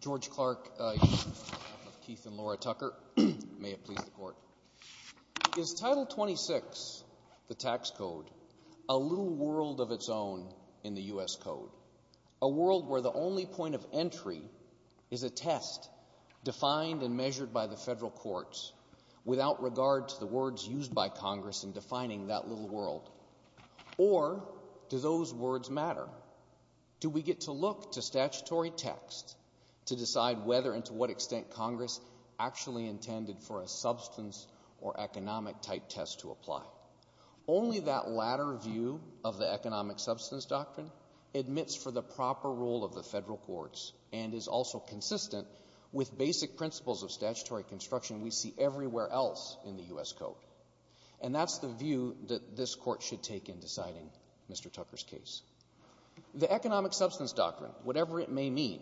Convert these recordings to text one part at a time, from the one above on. George Clark of Keith and Laura Tucker, may it please the court. Is Title 26, the tax code, a little world of its own in the U.S. Code? A world where the only point of entry is a test defined and measured by the federal courts without regard to the words used by Congress in defining that little world? Or do those words matter? Do we get to look to statutory text to decide whether and to what extent Congress actually intended for a substance or economic type test to apply? Only that latter view of the economic substance doctrine admits for the proper role of the federal courts and is also consistent with basic principles of statutory construction we see everywhere else in the U.S. Code. And that's the view that this court should take in deciding Mr. Tucker's case. The economic substance doctrine, whatever it may mean,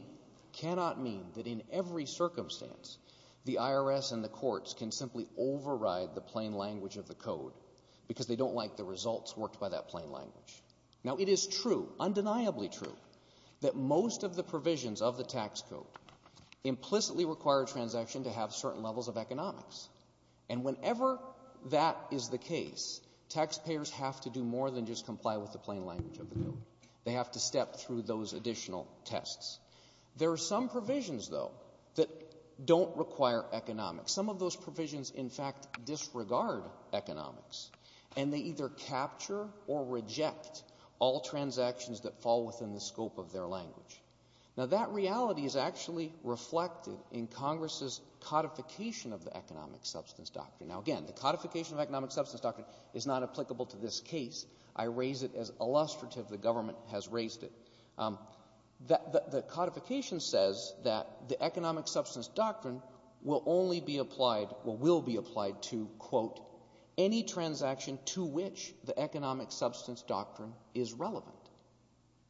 cannot mean that in every circumstance, the IRS and the courts can simply override the plain language of the Code because they don't like the results worked by that plain language. Now it is true, undeniably true, that most of the provisions of the tax code implicitly require a transaction to have certain levels of economics. And whenever that is the case, taxpayers have to do more than just comply with the plain language of the Code. They have to step through those additional tests. There are some provisions, though, that don't require economics. Some of those provisions, in fact, disregard economics. And they either capture or reject all transactions that fall within the scope of their language. Now that reality is actually reflected in Congress's codification of the economic substance doctrine. Now again, the codification of economic substance doctrine is not applicable to this case. I raise it as illustrative. The government has raised it. The codification says that the economic substance doctrine will only be applied, or will be applied to, quote, any transaction to which the economic substance doctrine is relevant.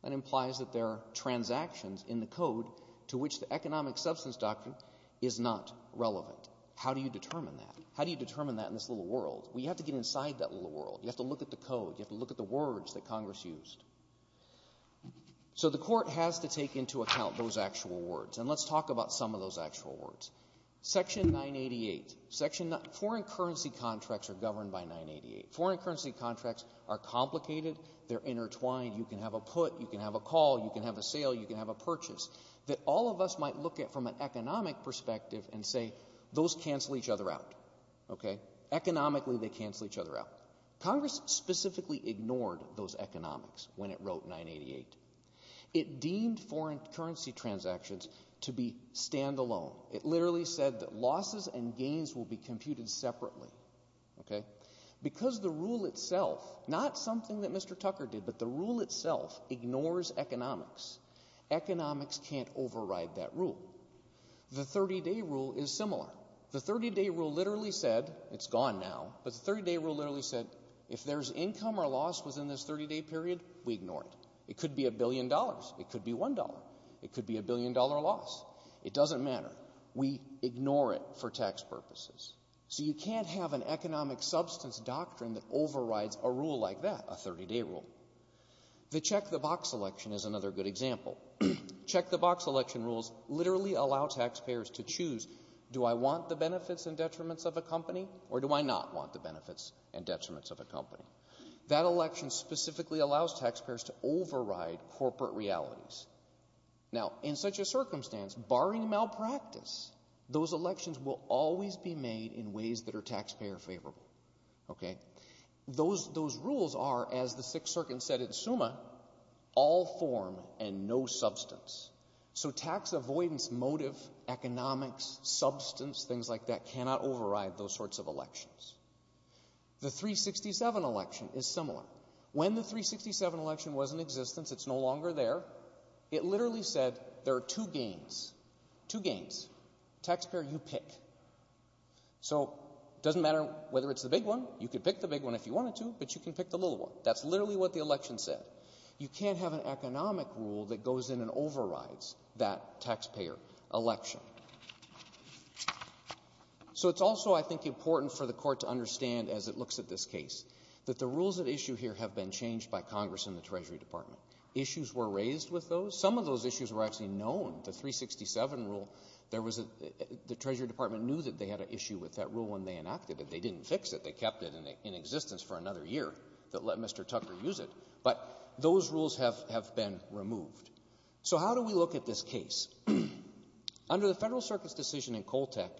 That implies that there are transactions in the Code to which the economic substance doctrine is not relevant. How do you determine that? How do you determine that in this little world? Well, you have to get inside that little world. You have to look at the Code. You have to look at the words that Congress used. So the Court has to take into account those actual words. And let's talk about some of those actual words. Section 988. Foreign currency contracts are governed by 988. Foreign currency contracts are complicated. They're intertwined. You can have a put, you can have a call, you can have a sale, you can have a purchase that all of us might look at from an economic perspective and say those cancel each other out, okay? Economically, they cancel each other out. Congress specifically ignored those economics when it wrote 988. It deemed foreign currency transactions to be stand-alone. It literally said that losses and gains will be computed separately, okay? Because the rule itself, not something that Mr. Tucker did, but the rule itself ignores economics, economics can't override that rule. The 30-day rule is similar. The 30-day rule literally said, it's gone now, but the 30-day rule literally said if there's income or loss within this 30-day period, we ignore it. It could be a billion dollars. It could be $1. It could be a billion-dollar loss. It doesn't matter. We ignore it for tax purposes. So you can't have an economic substance doctrine that overrides a rule like that, a 30-day rule. The check-the-box election is another good example. Check-the-box election rules literally allow taxpayers to choose do I want the benefits and detriments of a company or do I not want the benefits and detriments of a company? That election specifically allows taxpayers to override corporate realities. Now, in such a circumstance, barring malpractice, those elections will always be made in ways that are taxpayer-favorable, okay? Those rules are, as the Sixth Circuit said at SUMA, all form and no substance. So tax avoidance motive, economics, substance, things like that cannot override those sorts of elections. The 367 election is similar. When the 367 election was in existence, it's no longer there, it literally said there are two gains, two gains. Taxpayer, you pick. So it doesn't matter whether it's the big one. You could pick the big one if you wanted to, but you can pick the little one. That's literally what the election said. You can't have an economic rule that goes in and overrides that taxpayer election. So it's also, I think, important for the Court to understand, as it looks at this case, that the rules at issue here have been changed by Congress and the Treasury Department. Issues were raised with those. Some of those issues were actually known. The 367 rule, there was a... The Treasury Department knew that they had an issue with that rule when they enacted it. They didn't fix it. They kept it in existence for another year that let Mr. Tucker use it. But those rules have been removed. So how do we look at this case? Under the Federal Circuit's decision in Coltec,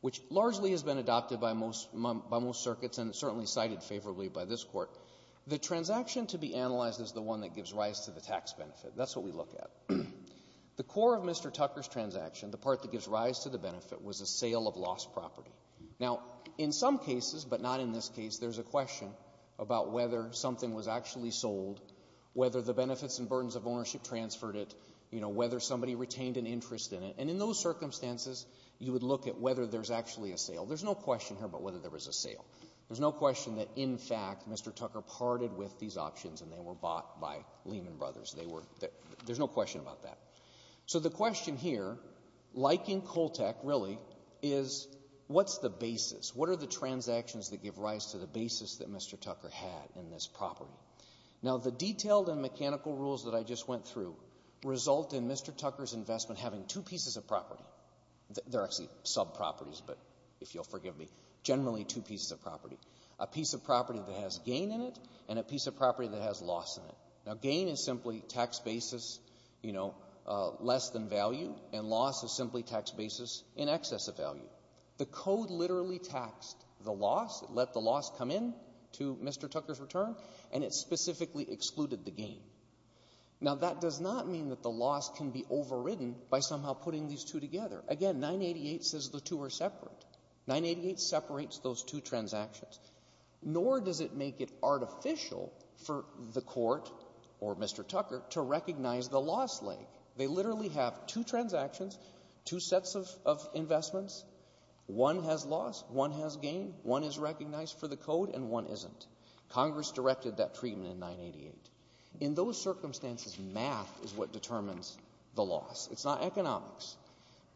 which largely has been adopted by most circuits and certainly cited favorably by this Court, the transaction to be analyzed is the one that gives rise to the tax benefit. That's what we look at. The core of Mr. Tucker's transaction, the part that gives rise to the benefit, was a sale of lost property. Now, in some cases, but not in this case, there's a question about whether something was actually sold, whether the benefits and burdens of ownership transferred it, whether somebody retained an interest in it. And in those circumstances, you would look at whether there's actually a sale. There's no question here about whether there was a sale. There's no question that, in fact, Mr. Tucker parted with these options and they were bought by Lehman Brothers. There's no question about that. So the question here, like in Coltec, really, is what's the basis? What are the transactions that give rise to the basis that Mr. Tucker had in this property? Now, the detailed and mechanical rules that I just went through result in Mr. Tucker's investment having two pieces of property. They're actually sub-properties, but if you'll forgive me, generally two pieces of property, a piece of property that has gain in it and a piece of property that has loss in it. Now, gain is simply tax basis, you know, less than value, and loss is simply tax basis in excess of value. The Code literally taxed the loss. It let the loss come in to Mr. Tucker's return, and it specifically excluded the gain. Now, that does not mean that the loss can be overridden by somehow putting these two together. Again, 988 says the two are separate. 988 separates those two transactions. Nor does it make it artificial for the Court, or Mr. Tucker, to recognize the loss leg. They literally have two transactions, two sets of investments. One has loss, one has gain, one is recognized for the Code, and one isn't. Congress directed that treatment in 988. In those circumstances, math is what determines the loss. It's not economics.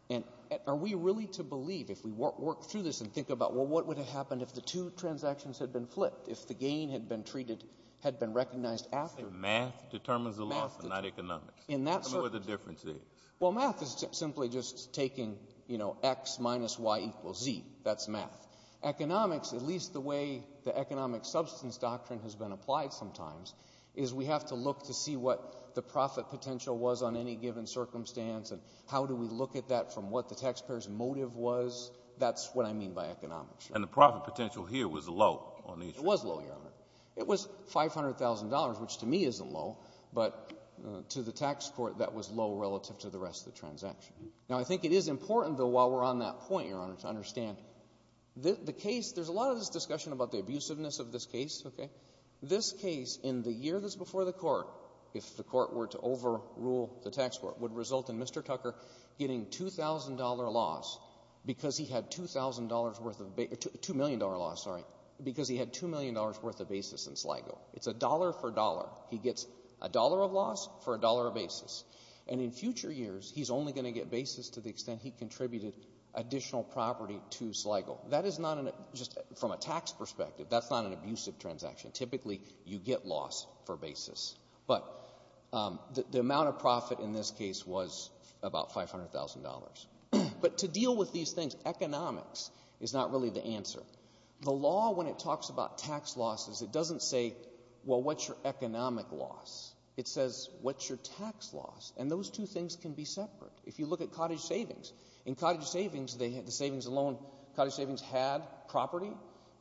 And are we really to believe, if we work through this and think about, well, what would have happened if the two transactions had been flipped, if the gain had been treated, had been recognized after? You're saying math determines the loss and not economics? In that circumstance. Tell me what the difference is. Well, math is simply just taking, you know, x minus y equals z. That's math. Economics, at least the way the economic substance doctrine has been applied sometimes, is we have to look to see what the profit potential was on any given circumstance, and how do we look at that from what the taxpayer's motive was? That's what I mean by economics. And the profit potential here was low on these... It was low, Your Honor. It was $500,000, which to me isn't low, but to the tax court, that was low relative to the rest of the transaction. Now, I think it is important, though, while we're on that point, Your Honor, to understand the case, there's a lot of this discussion about the abusiveness of this case, okay? This case, in the year that's before the court, if the court were to overrule the tax court, would result in Mr. Tucker getting $2,000 loss because he had $2,000 worth of... $2 million loss, sorry, because he had $2 million worth of basis in Sligo. It's a dollar for dollar. He gets a dollar of loss for a dollar of basis. And in future years, he's only going to get basis to the extent he contributed additional property to Sligo. That is not an... Just from a tax perspective, that's not an abusive transaction. Typically, you get loss for basis. But the amount of profit in this case was about $500,000. But to deal with these things, economics is not really the answer. The law, when it talks about tax losses, it doesn't say, well, what's your economic loss? It says, what's your tax loss? And those two things can be separate. If you look at cottage savings, in cottage savings, the savings alone, cottage savings had property.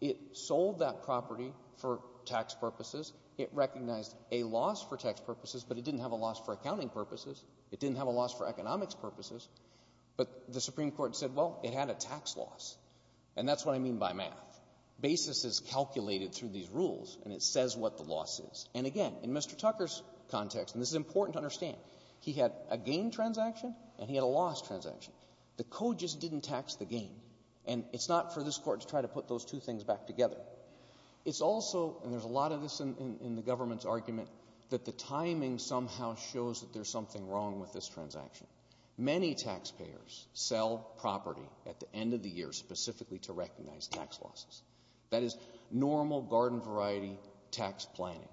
It sold that property for tax purposes. It recognized a loss for tax purposes, but it didn't have a loss for accounting purposes. It didn't have a loss for economics purposes. But the Supreme Court said, well, it had a tax loss. And that's what I mean by math. Basis is calculated through these rules, and it says what the loss is. And again, in Mr. Tucker's context, and this is important to understand, he had a gain transaction and he had a loss transaction. The code just didn't tax the gain. And it's not for this Court to try to put those two things back together. It's also, and there's a lot of this in the government's argument, that the timing somehow shows that there's something wrong with this transaction. Many taxpayers sell property at the end of the year specifically to recognize tax losses. That is normal garden variety tax planning.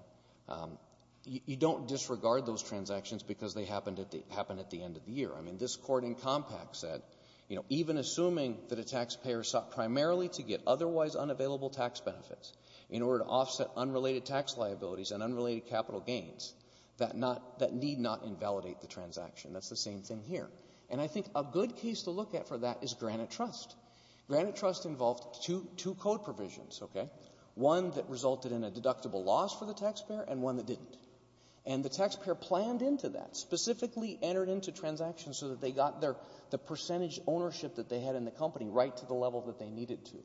You don't disregard those transactions because they happen at the end of the year. I mean, this Court in Compact said, even assuming that a taxpayer sought primarily to get otherwise unavailable tax benefits in order to offset unrelated tax liabilities and unrelated capital gains that need not invalidate the transaction. That's the same thing here. And I think a good case to look at for that is Granite Trust. Granite Trust involved two code provisions, okay? One that resulted in a deductible loss for the taxpayer and one that didn't. And the taxpayer planned into that, specifically entered into transactions so that they got the percentage ownership that they had in the company right to the level that they needed to.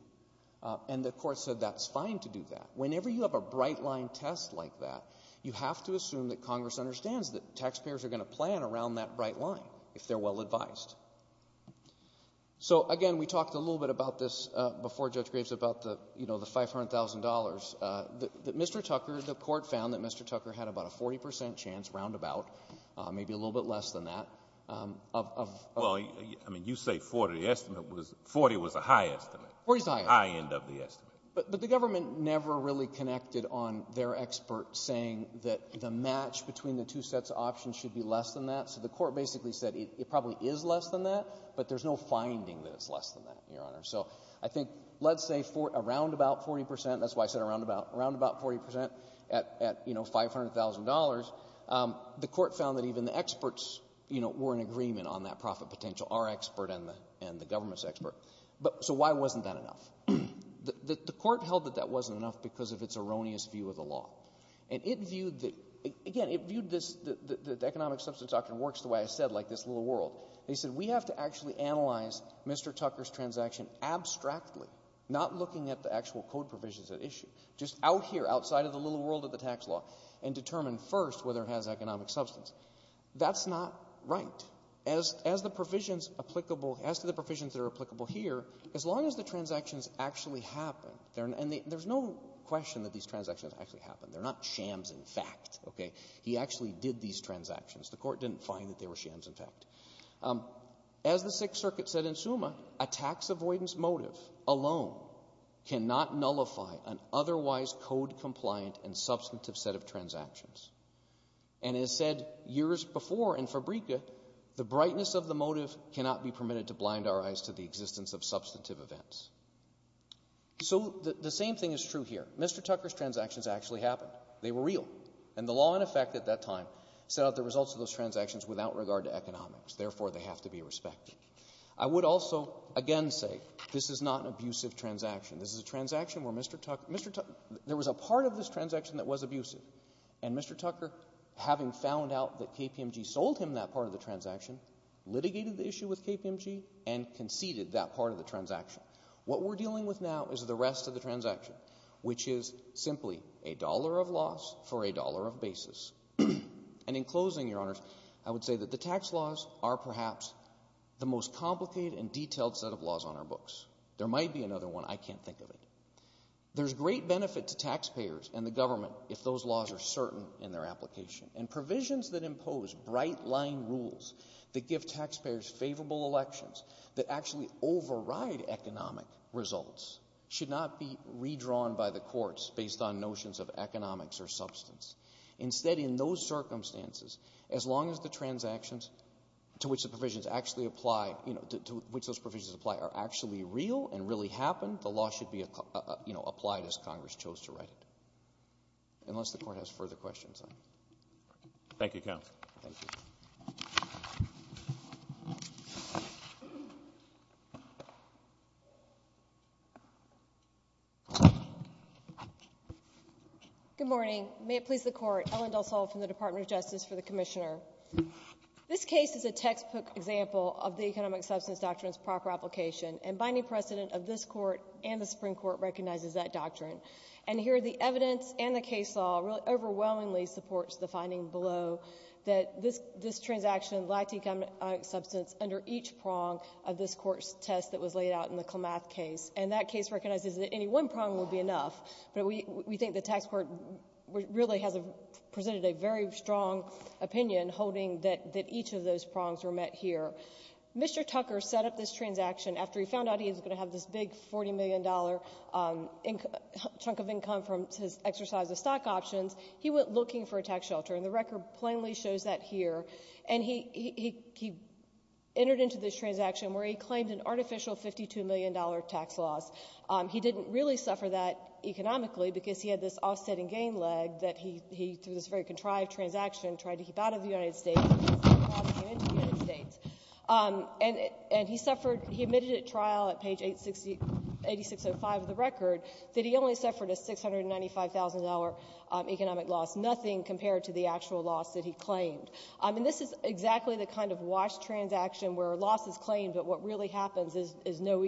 And the Court said that's fine to do that. Whenever you have a bright-line test like that, you have to assume that Congress understands that taxpayers are going to plan around that bright line if they're well-advised. So, again, we talked a little bit about this before Judge Graves about the, you know, the $500,000. Mr. Tucker, the Court found that Mr. Tucker had about a 40 percent chance, roundabout, maybe a little bit less than that. Well, I mean, you say 40. The estimate was 40 was a high estimate. High end of the estimate. But the government never really connected on their expert saying that the match between the two sets of options should be less than that. So the Court basically said it probably is less than that, but there's no finding that it's less than that, Your Honor. So I think, let's say, around about 40 percent, that's why I said around about 40 percent, at, you know, $500,000, the Court found that even the experts, you know, were in agreement on that profit potential, our expert and the government's expert. So why wasn't that enough? The Court held that that wasn't enough because of its erroneous view of the law. And it viewed the... I think it works the way I said, like this little world. They said, we have to actually analyze Mr. Tucker's transaction abstractly, not looking at the actual code provisions at issue, just out here, outside of the little world of the tax law, and determine first whether it has economic substance. That's not right. As the provisions applicable, as to the provisions that are applicable here, as long as the transactions actually happen, and there's no question that these transactions actually happen. They're not shams in fact, okay? He actually did these transactions. The Court didn't find that they were shams, in fact. As the Sixth Circuit said in Summa, a tax avoidance motive alone cannot nullify an otherwise code-compliant and substantive set of transactions. And as said years before in Fabrica, the brightness of the motive cannot be permitted to blind our eyes to the existence of substantive events. So the same thing is true here. Mr. Tucker's transactions actually happened. They were real. And the law in effect at that time set out the results of those transactions without regard to economics. Therefore, they have to be respected. I would also again say this is not an abusive transaction. This is a transaction where Mr. Tucker — there was a part of this transaction that was abusive. And Mr. Tucker, having found out that KPMG sold him that part of the transaction, litigated the issue with KPMG and conceded that part of the transaction. What we're dealing with now is the rest of the transaction, which is simply a dollar of loss for a dollar of basis. And in closing, Your Honors, I would say that the tax laws are perhaps the most complicated and detailed set of laws on our books. There might be another one. I can't think of it. There's great benefit to taxpayers and the government if those laws are certain in their application. And provisions that impose bright-line rules that give taxpayers favorable elections, that actually override economic results, should not be redrawn by the courts based on notions of economics or substance. Instead, in those circumstances, as long as the transactions to which the provisions actually apply, you know, to which those provisions apply, are actually real and really happen, the law should be, you know, applied as Congress chose to write it, unless the Court has further questions on it. Thank you, counsel. Thank you. Good morning. May it please the Court. Ellen DelSalle from the Department of Justice for the Commissioner. This case is a textbook example of the Economic Substance Doctrine's proper application, and binding precedent of this Court and the Supreme Court recognizes that doctrine. And here, the evidence and the case law really overwhelmingly supports the finding below that this transaction lacked economic substance under each prong of this Court's test that was laid out in the Klamath case. And that case recognizes that any one prong would be enough, but we think the tax court really has presented a very strong opinion holding that each of those prongs were met here. Mr. Tucker set up this transaction after he found out he was going to have this big $40 million chunk of income from his exercise of stock options. He went looking for a tax shelter, and the record plainly shows that here. And he entered into this transaction where he claimed an artificial $52 million tax loss. He didn't really suffer that economically because he had this offsetting gain leg that he, through this very contrived transaction, tried to keep out of the United States, and this loss came into the United States. And he suffered — he admitted at trial at page 8605 of the record that he only suffered a $695,000 economic loss, nothing compared to the actual loss that he claimed. And this is exactly the kind of wash transaction where a loss is claimed, but what really happens is no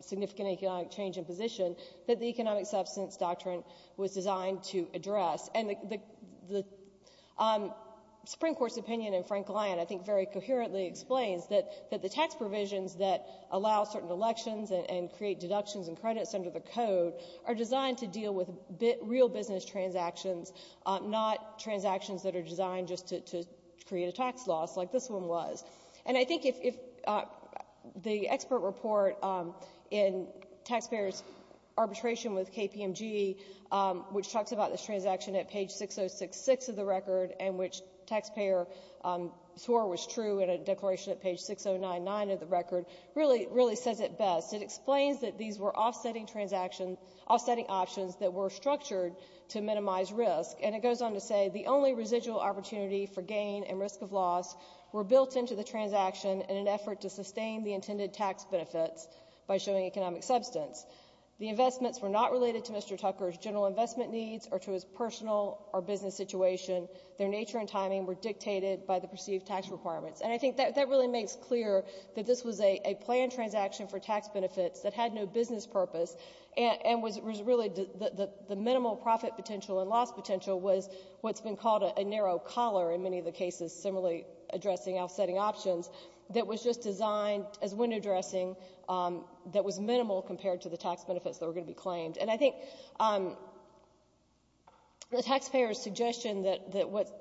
significant economic change in position that the economic substance doctrine was designed to address. And the Supreme Court's opinion in Frank Lyon I think very coherently explains that the tax provisions that allow certain elections and create deductions and credits under the code are designed to deal with real business transactions, not transactions that are designed just to create a tax loss like this one was. And I think if the expert report in taxpayers' arbitration with KPMG, which talks about this transaction at page 6066 of the record and which taxpayer swore was true in a declaration at page 6099 of the record, really says it best. It explains that these were offsetting transactions — offsetting options that were structured to minimize risk. And it goes on to say, the only residual opportunity for gain and risk of loss were built into the transaction in an effort to sustain the intended tax benefits by showing economic substance. The investments were not related to Mr. Tucker's general investment needs or to his personal or business situation. Their nature and timing were dictated by the perceived tax requirements. And I think that really makes clear that this was a planned transaction for tax benefits that had no business purpose and was really the minimal profit potential and loss potential was what's been called a narrow collar in many of the cases similarly addressing offsetting options that was just designed as window dressing that was minimal compared to the tax benefits that were going to be claimed. And I think the taxpayer's suggestion that what's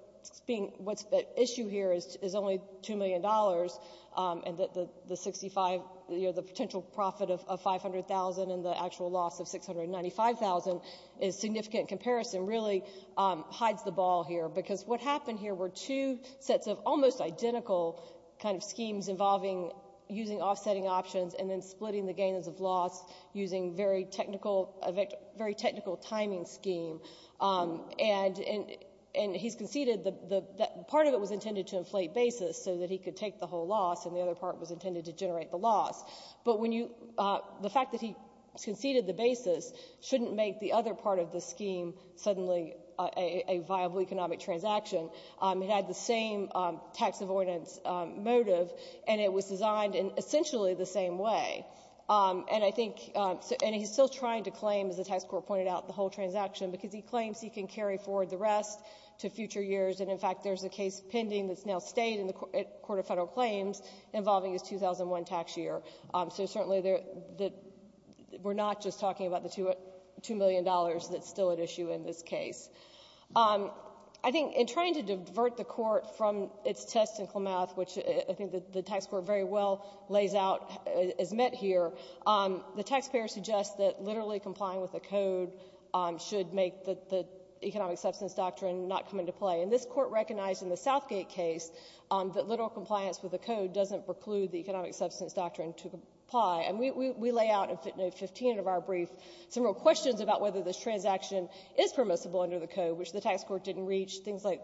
being — what's at issue here is only $2 million and that the 65 — you know, the potential profit of 500,000 and the actual loss of 695,000 is significant comparison really hides the ball here because what happened here were two sets of almost identical kind of schemes involving using offsetting options and then splitting the gains of loss using very technical — a very technical timing scheme. And he's conceded that part of it was intended to inflate basis so that he could take the whole loss and the other part was intended to generate the loss. But when you — the fact that he conceded the basis shouldn't make the other part of the scheme suddenly a viable economic transaction. It had the same tax avoidance motive and it was designed in essentially the same way. And I think — and he's still trying to claim, as the tax court pointed out, the whole transaction because he claims he can carry forward the rest to future years and, in fact, there's a case pending that's now stayed in the Court of Federal Claims involving his 2001 tax year. So certainly there — we're not just talking about the $2 million that's still at issue in this case. I think in trying to divert the Court from its test in Klamath, which I think the tax court very well lays out as met here, the taxpayers suggest that literally complying with the Code should make the economic substance doctrine not come into play. And this Court recognized in the Southgate case that literal compliance with the Code doesn't preclude the economic substance doctrine to comply. And we lay out in 15 of our brief some real questions about whether this transaction is permissible under the Code, which the tax court didn't reach, things like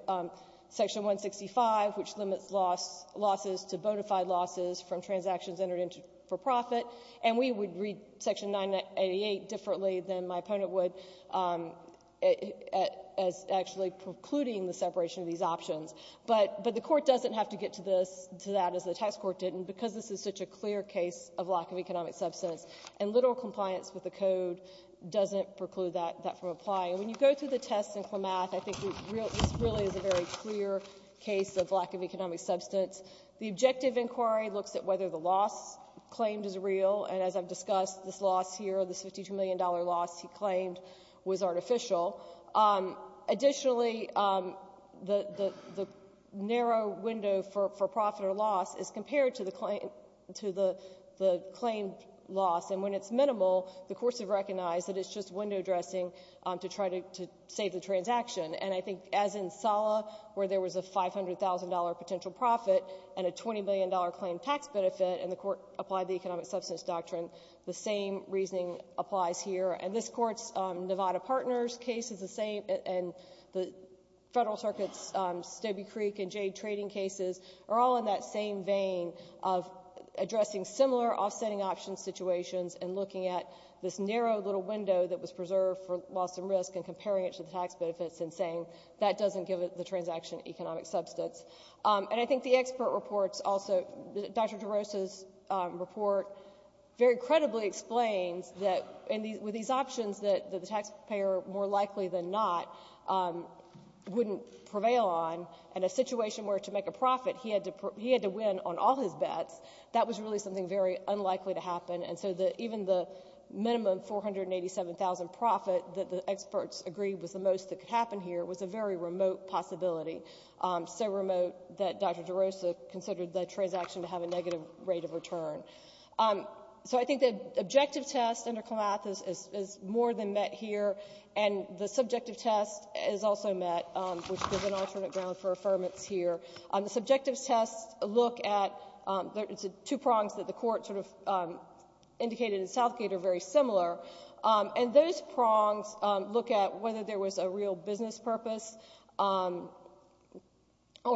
Section 165, which limits losses to bona fide losses from transactions entered into for profit. And we would read Section 988 differently than my opponent would as actually precluding the separation of these options. But the Court doesn't have to get to that, as the tax court didn't, because this is such a clear case of lack of economic substance. And literal compliance with the Code doesn't preclude that from applying. When you go through the test in Klamath, I think this really is a very clear case of lack of economic substance. The objective inquiry looks at whether the loss claimed is real. And as I've discussed, this loss here, this $52 million loss he claimed, was artificial. Additionally, the narrow window for profit or loss is compared to the claim loss. And when it's minimal, the courts have recognized that it's just window dressing to try to save the transaction. And I think as in Sala, where there was a $500,000 potential profit and a $20 million claim tax benefit, and the Court applied the economic substance doctrine, the same reasoning applies here. And this Court's Nevada Partners case is the same, and the Federal Circuit's Stobie Creek and Jade trading cases are all in that same vein of addressing similar offsetting options situations and looking at this narrow little window that was preserved for loss and risk and comparing it to the tax benefits and saying that doesn't give the transaction economic substance. And I think the expert reports also, Dr. DeRosa's report very credibly explains that with these options that the taxpayer, more likely than not, wouldn't prevail on, and a situation where to make a profit, he had to win on all his bets, that was really something very unlikely to happen. And so even the minimum $487,000 profit that the experts agreed was the most that could happen here was a very remote possibility, so remote that Dr. DeRosa considered that transaction to have a negative rate of return. So I think the objective test under Clematis is more than met here, and the subjective test is also met, which gives an alternate ground for affirmance here. The subjective test look at the two prongs that the Court sort of indicated in Southgate are very similar, and those prongs look at whether there was a real business purpose or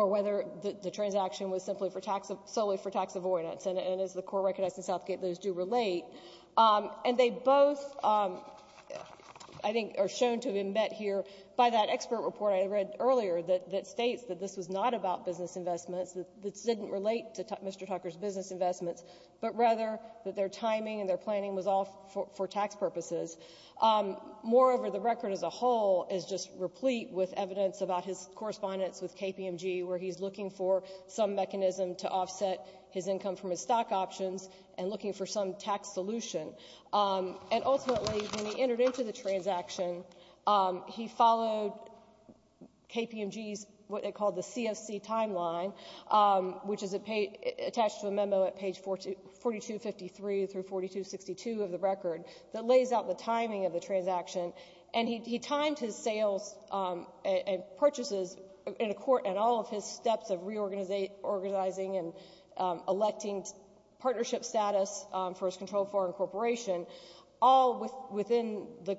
whether the transaction was solely for tax avoidance, and as the Court recognized in Southgate, those do relate. And they both, I think, are shown to have been met here by that expert report I read earlier that states that this was not about business investments, that this didn't relate to Mr. Tucker's business investments, but rather that their timing and their planning was all for tax purposes. Moreover, the record as a whole is just replete with evidence about his correspondence with KPMG where he's looking for some mechanism to offset his income from his stock options and looking for some tax solution. And ultimately, when he entered into the transaction, he followed KPMG's, what they called the CFC timeline, which is attached to a memo at page 4253 through 4262 of the record that lays out the timing of the transaction, and he timed his sales and purchases and all of his steps of reorganizing and electing partnership status for his controlled foreign corporation all within the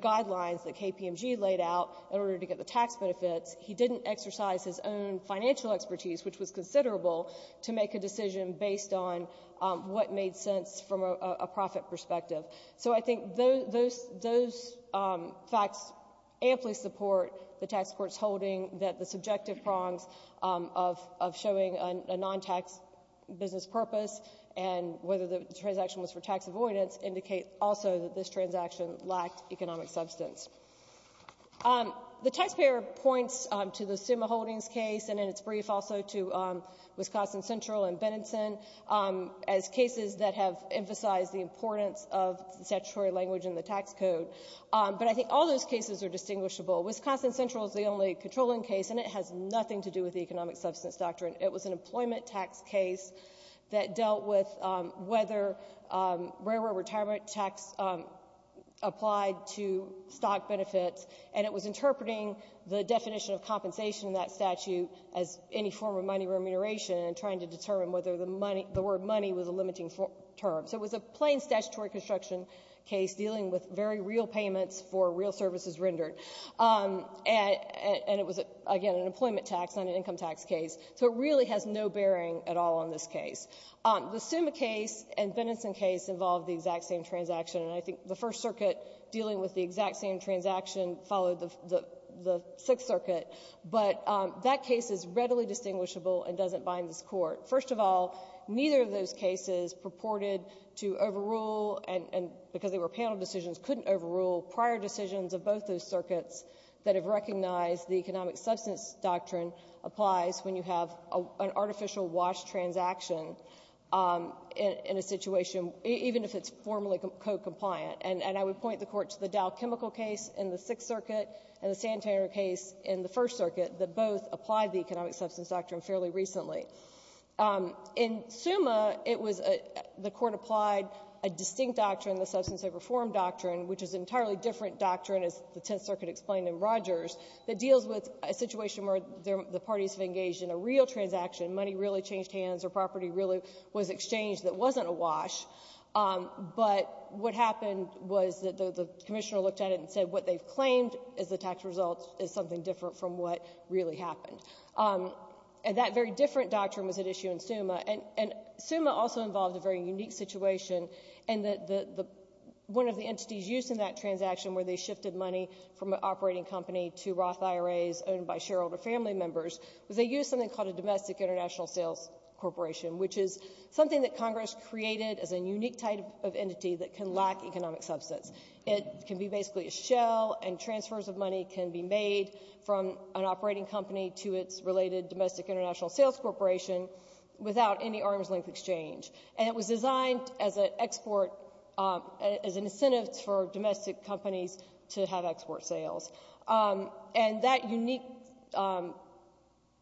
guidelines that KPMG laid out in order to get the tax benefits. He didn't exercise his own financial expertise, which was considerable, to make a decision based on what made sense from a profit perspective. So I think those facts amply support the tax court's holding that the subjective prongs of showing a non-tax business purpose and whether the transaction was for tax avoidance indicate also that this transaction lacked economic substance. The taxpayer points to the Summa Holdings case and in its brief also to Wisconsin Central and Benenson as cases that have emphasized the importance of the statutory language in the tax code, but I think all those cases are distinguishable. Wisconsin Central is the only controlling case, and it has nothing to do with the economic substance doctrine. It was an employment tax case that dealt with whether railroad retirement tax applied to stock benefits, and it was interpreting the definition of compensation in that statute as any form of money remuneration and trying to determine whether the word money was a limiting term. So it was a plain statutory construction case dealing with very real payments for real services rendered, and it was, again, an employment tax, not an income tax case. So it really has no bearing at all on this case. The Summa case and Benenson case involved the exact same transaction, and I think the First Circuit dealing with the exact same transaction followed the Sixth Circuit, but that case is readily distinguishable and doesn't bind this Court. First of all, neither of those cases purported to overrule, and because they were panel decisions, couldn't overrule prior decisions of both those circuits that have recognized the economic substance doctrine applies when you have an artificial wash transaction in a situation, even if it's formally co-compliant. And I would point the Court to the Dow Chemical case in the Sixth Circuit and the Santaner case in the First Circuit that both applied the economic substance doctrine fairly recently. In Summa, it was a — the Court applied a distinct doctrine, the substance of reform doctrine, which is an entirely different doctrine, as the Tenth Circuit explained in Rogers, that deals with a situation where the parties have engaged in a real transaction, money really changed hands, or property really was exchanged that wasn't a wash, but what happened was that the commissioner looked at it and said what they've claimed as the tax results is something different from what really happened. And that very different doctrine was at issue in Summa, and Summa also involved a very unique situation in that the — one of the entities used in that transaction where they shifted money from an operating company to Roth IRAs owned by shareholder family members was they used something called a domestic international sales corporation, which is something that Congress created as a unique type of entity that can lack economic substance. It can be basically a shell and transfers of money can be made from an operating company to its related domestic international sales corporation without any arm's length exchange. And it was designed as an export — as an incentive for domestic companies to have export sales. And that unique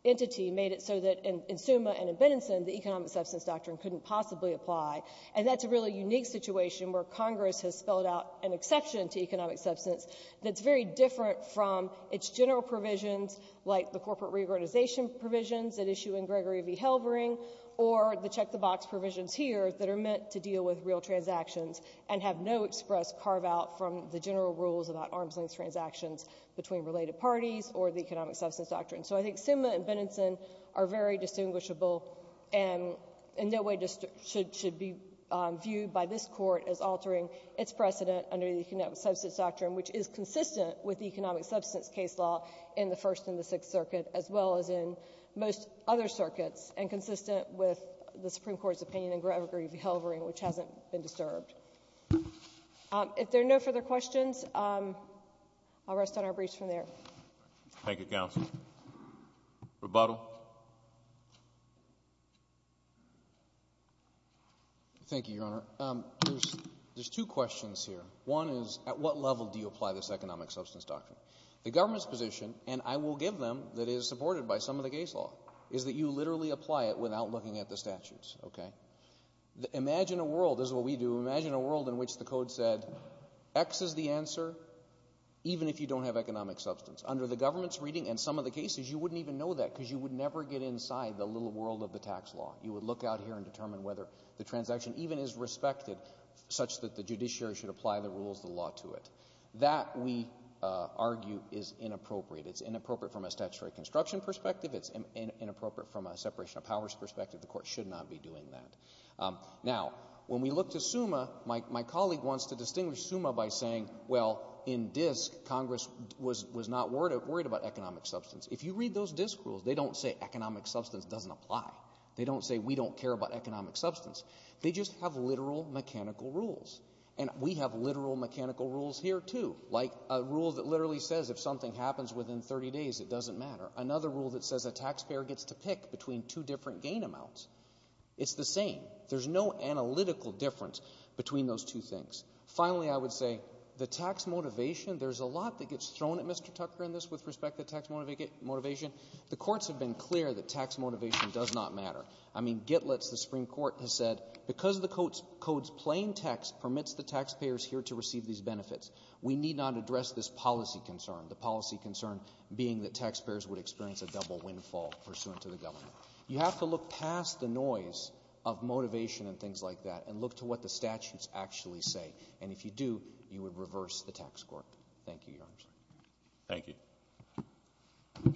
entity made it so that in Summa and in Benenson the economic substance doctrine couldn't possibly apply. And that's a really unique situation where Congress has spelled out an exception to economic substance that's very different from its general provisions like the corporate reorganization provisions at issue in Gregory v. Halvering or the check the box provisions here that are meant to deal with real transactions and have no express carve out from the general rules about arm's length transactions between related parties or the economic substance doctrine. So I think Summa and Benenson are very distinguishable and in no way should be viewed by this Court as altering its precedent under the economic substance doctrine, which is consistent with the economic substance case law in the First and the Sixth Circuit as well as in most other circuits and consistent with the Supreme Court's opinion in Gregory v. Halvering, which hasn't been disturbed. If there are no further questions, I'll rest on our briefs from there. Thank you, Counsel. Rebuttal. Thank you, Your Honor. There's two questions here. One is at what level do you apply this economic substance doctrine? The government's position, and I will give them, that is supported by some of the case law, is that you literally apply it without looking at the statutes. Imagine a world, this is what we do, imagine a world in which the Code said, X is the answer even if you don't have economic substance. Under the government's reading and some of the cases, you wouldn't even know that because you would never get inside the little world of the tax law. You would look out here and determine whether the transaction even is respected such that the judiciary should apply the rules of the law to it. That, we argue, is inappropriate. It's inappropriate from a statutory construction perspective. It's inappropriate from a separation of powers perspective. The Court should not be doing that. Now, when we look to SUMA, my colleague wants to distinguish SUMA by saying, well, in DISC, Congress was not worried about economic substance. If you read those DISC rules, they don't say economic substance doesn't apply. They don't say we don't care about economic substance. They just have literal mechanical rules. And we have literal mechanical rules here, too, like a rule that literally says if something happens within 30 days, it doesn't matter. Another rule that says a taxpayer gets to pick between two different gain amounts. It's the same. There's no analytical difference between those two things. Finally, I would say, the tax motivation, there's a lot that gets thrown at Mr. Tucker in this with respect to tax motivation. The courts have been clear that tax motivation does not matter. I mean, Gitlitz, the Supreme Court, has said because the Code's plain text permits the taxpayers here to receive these benefits, we need not address this policy concern, the policy concern being that taxpayers would experience a double windfall pursuant to the government. You have to look past the noise of motivation and things like that and look to what the statutes actually say. And if you do, you would reverse the tax court. Thank you, Your Honor. Thank you.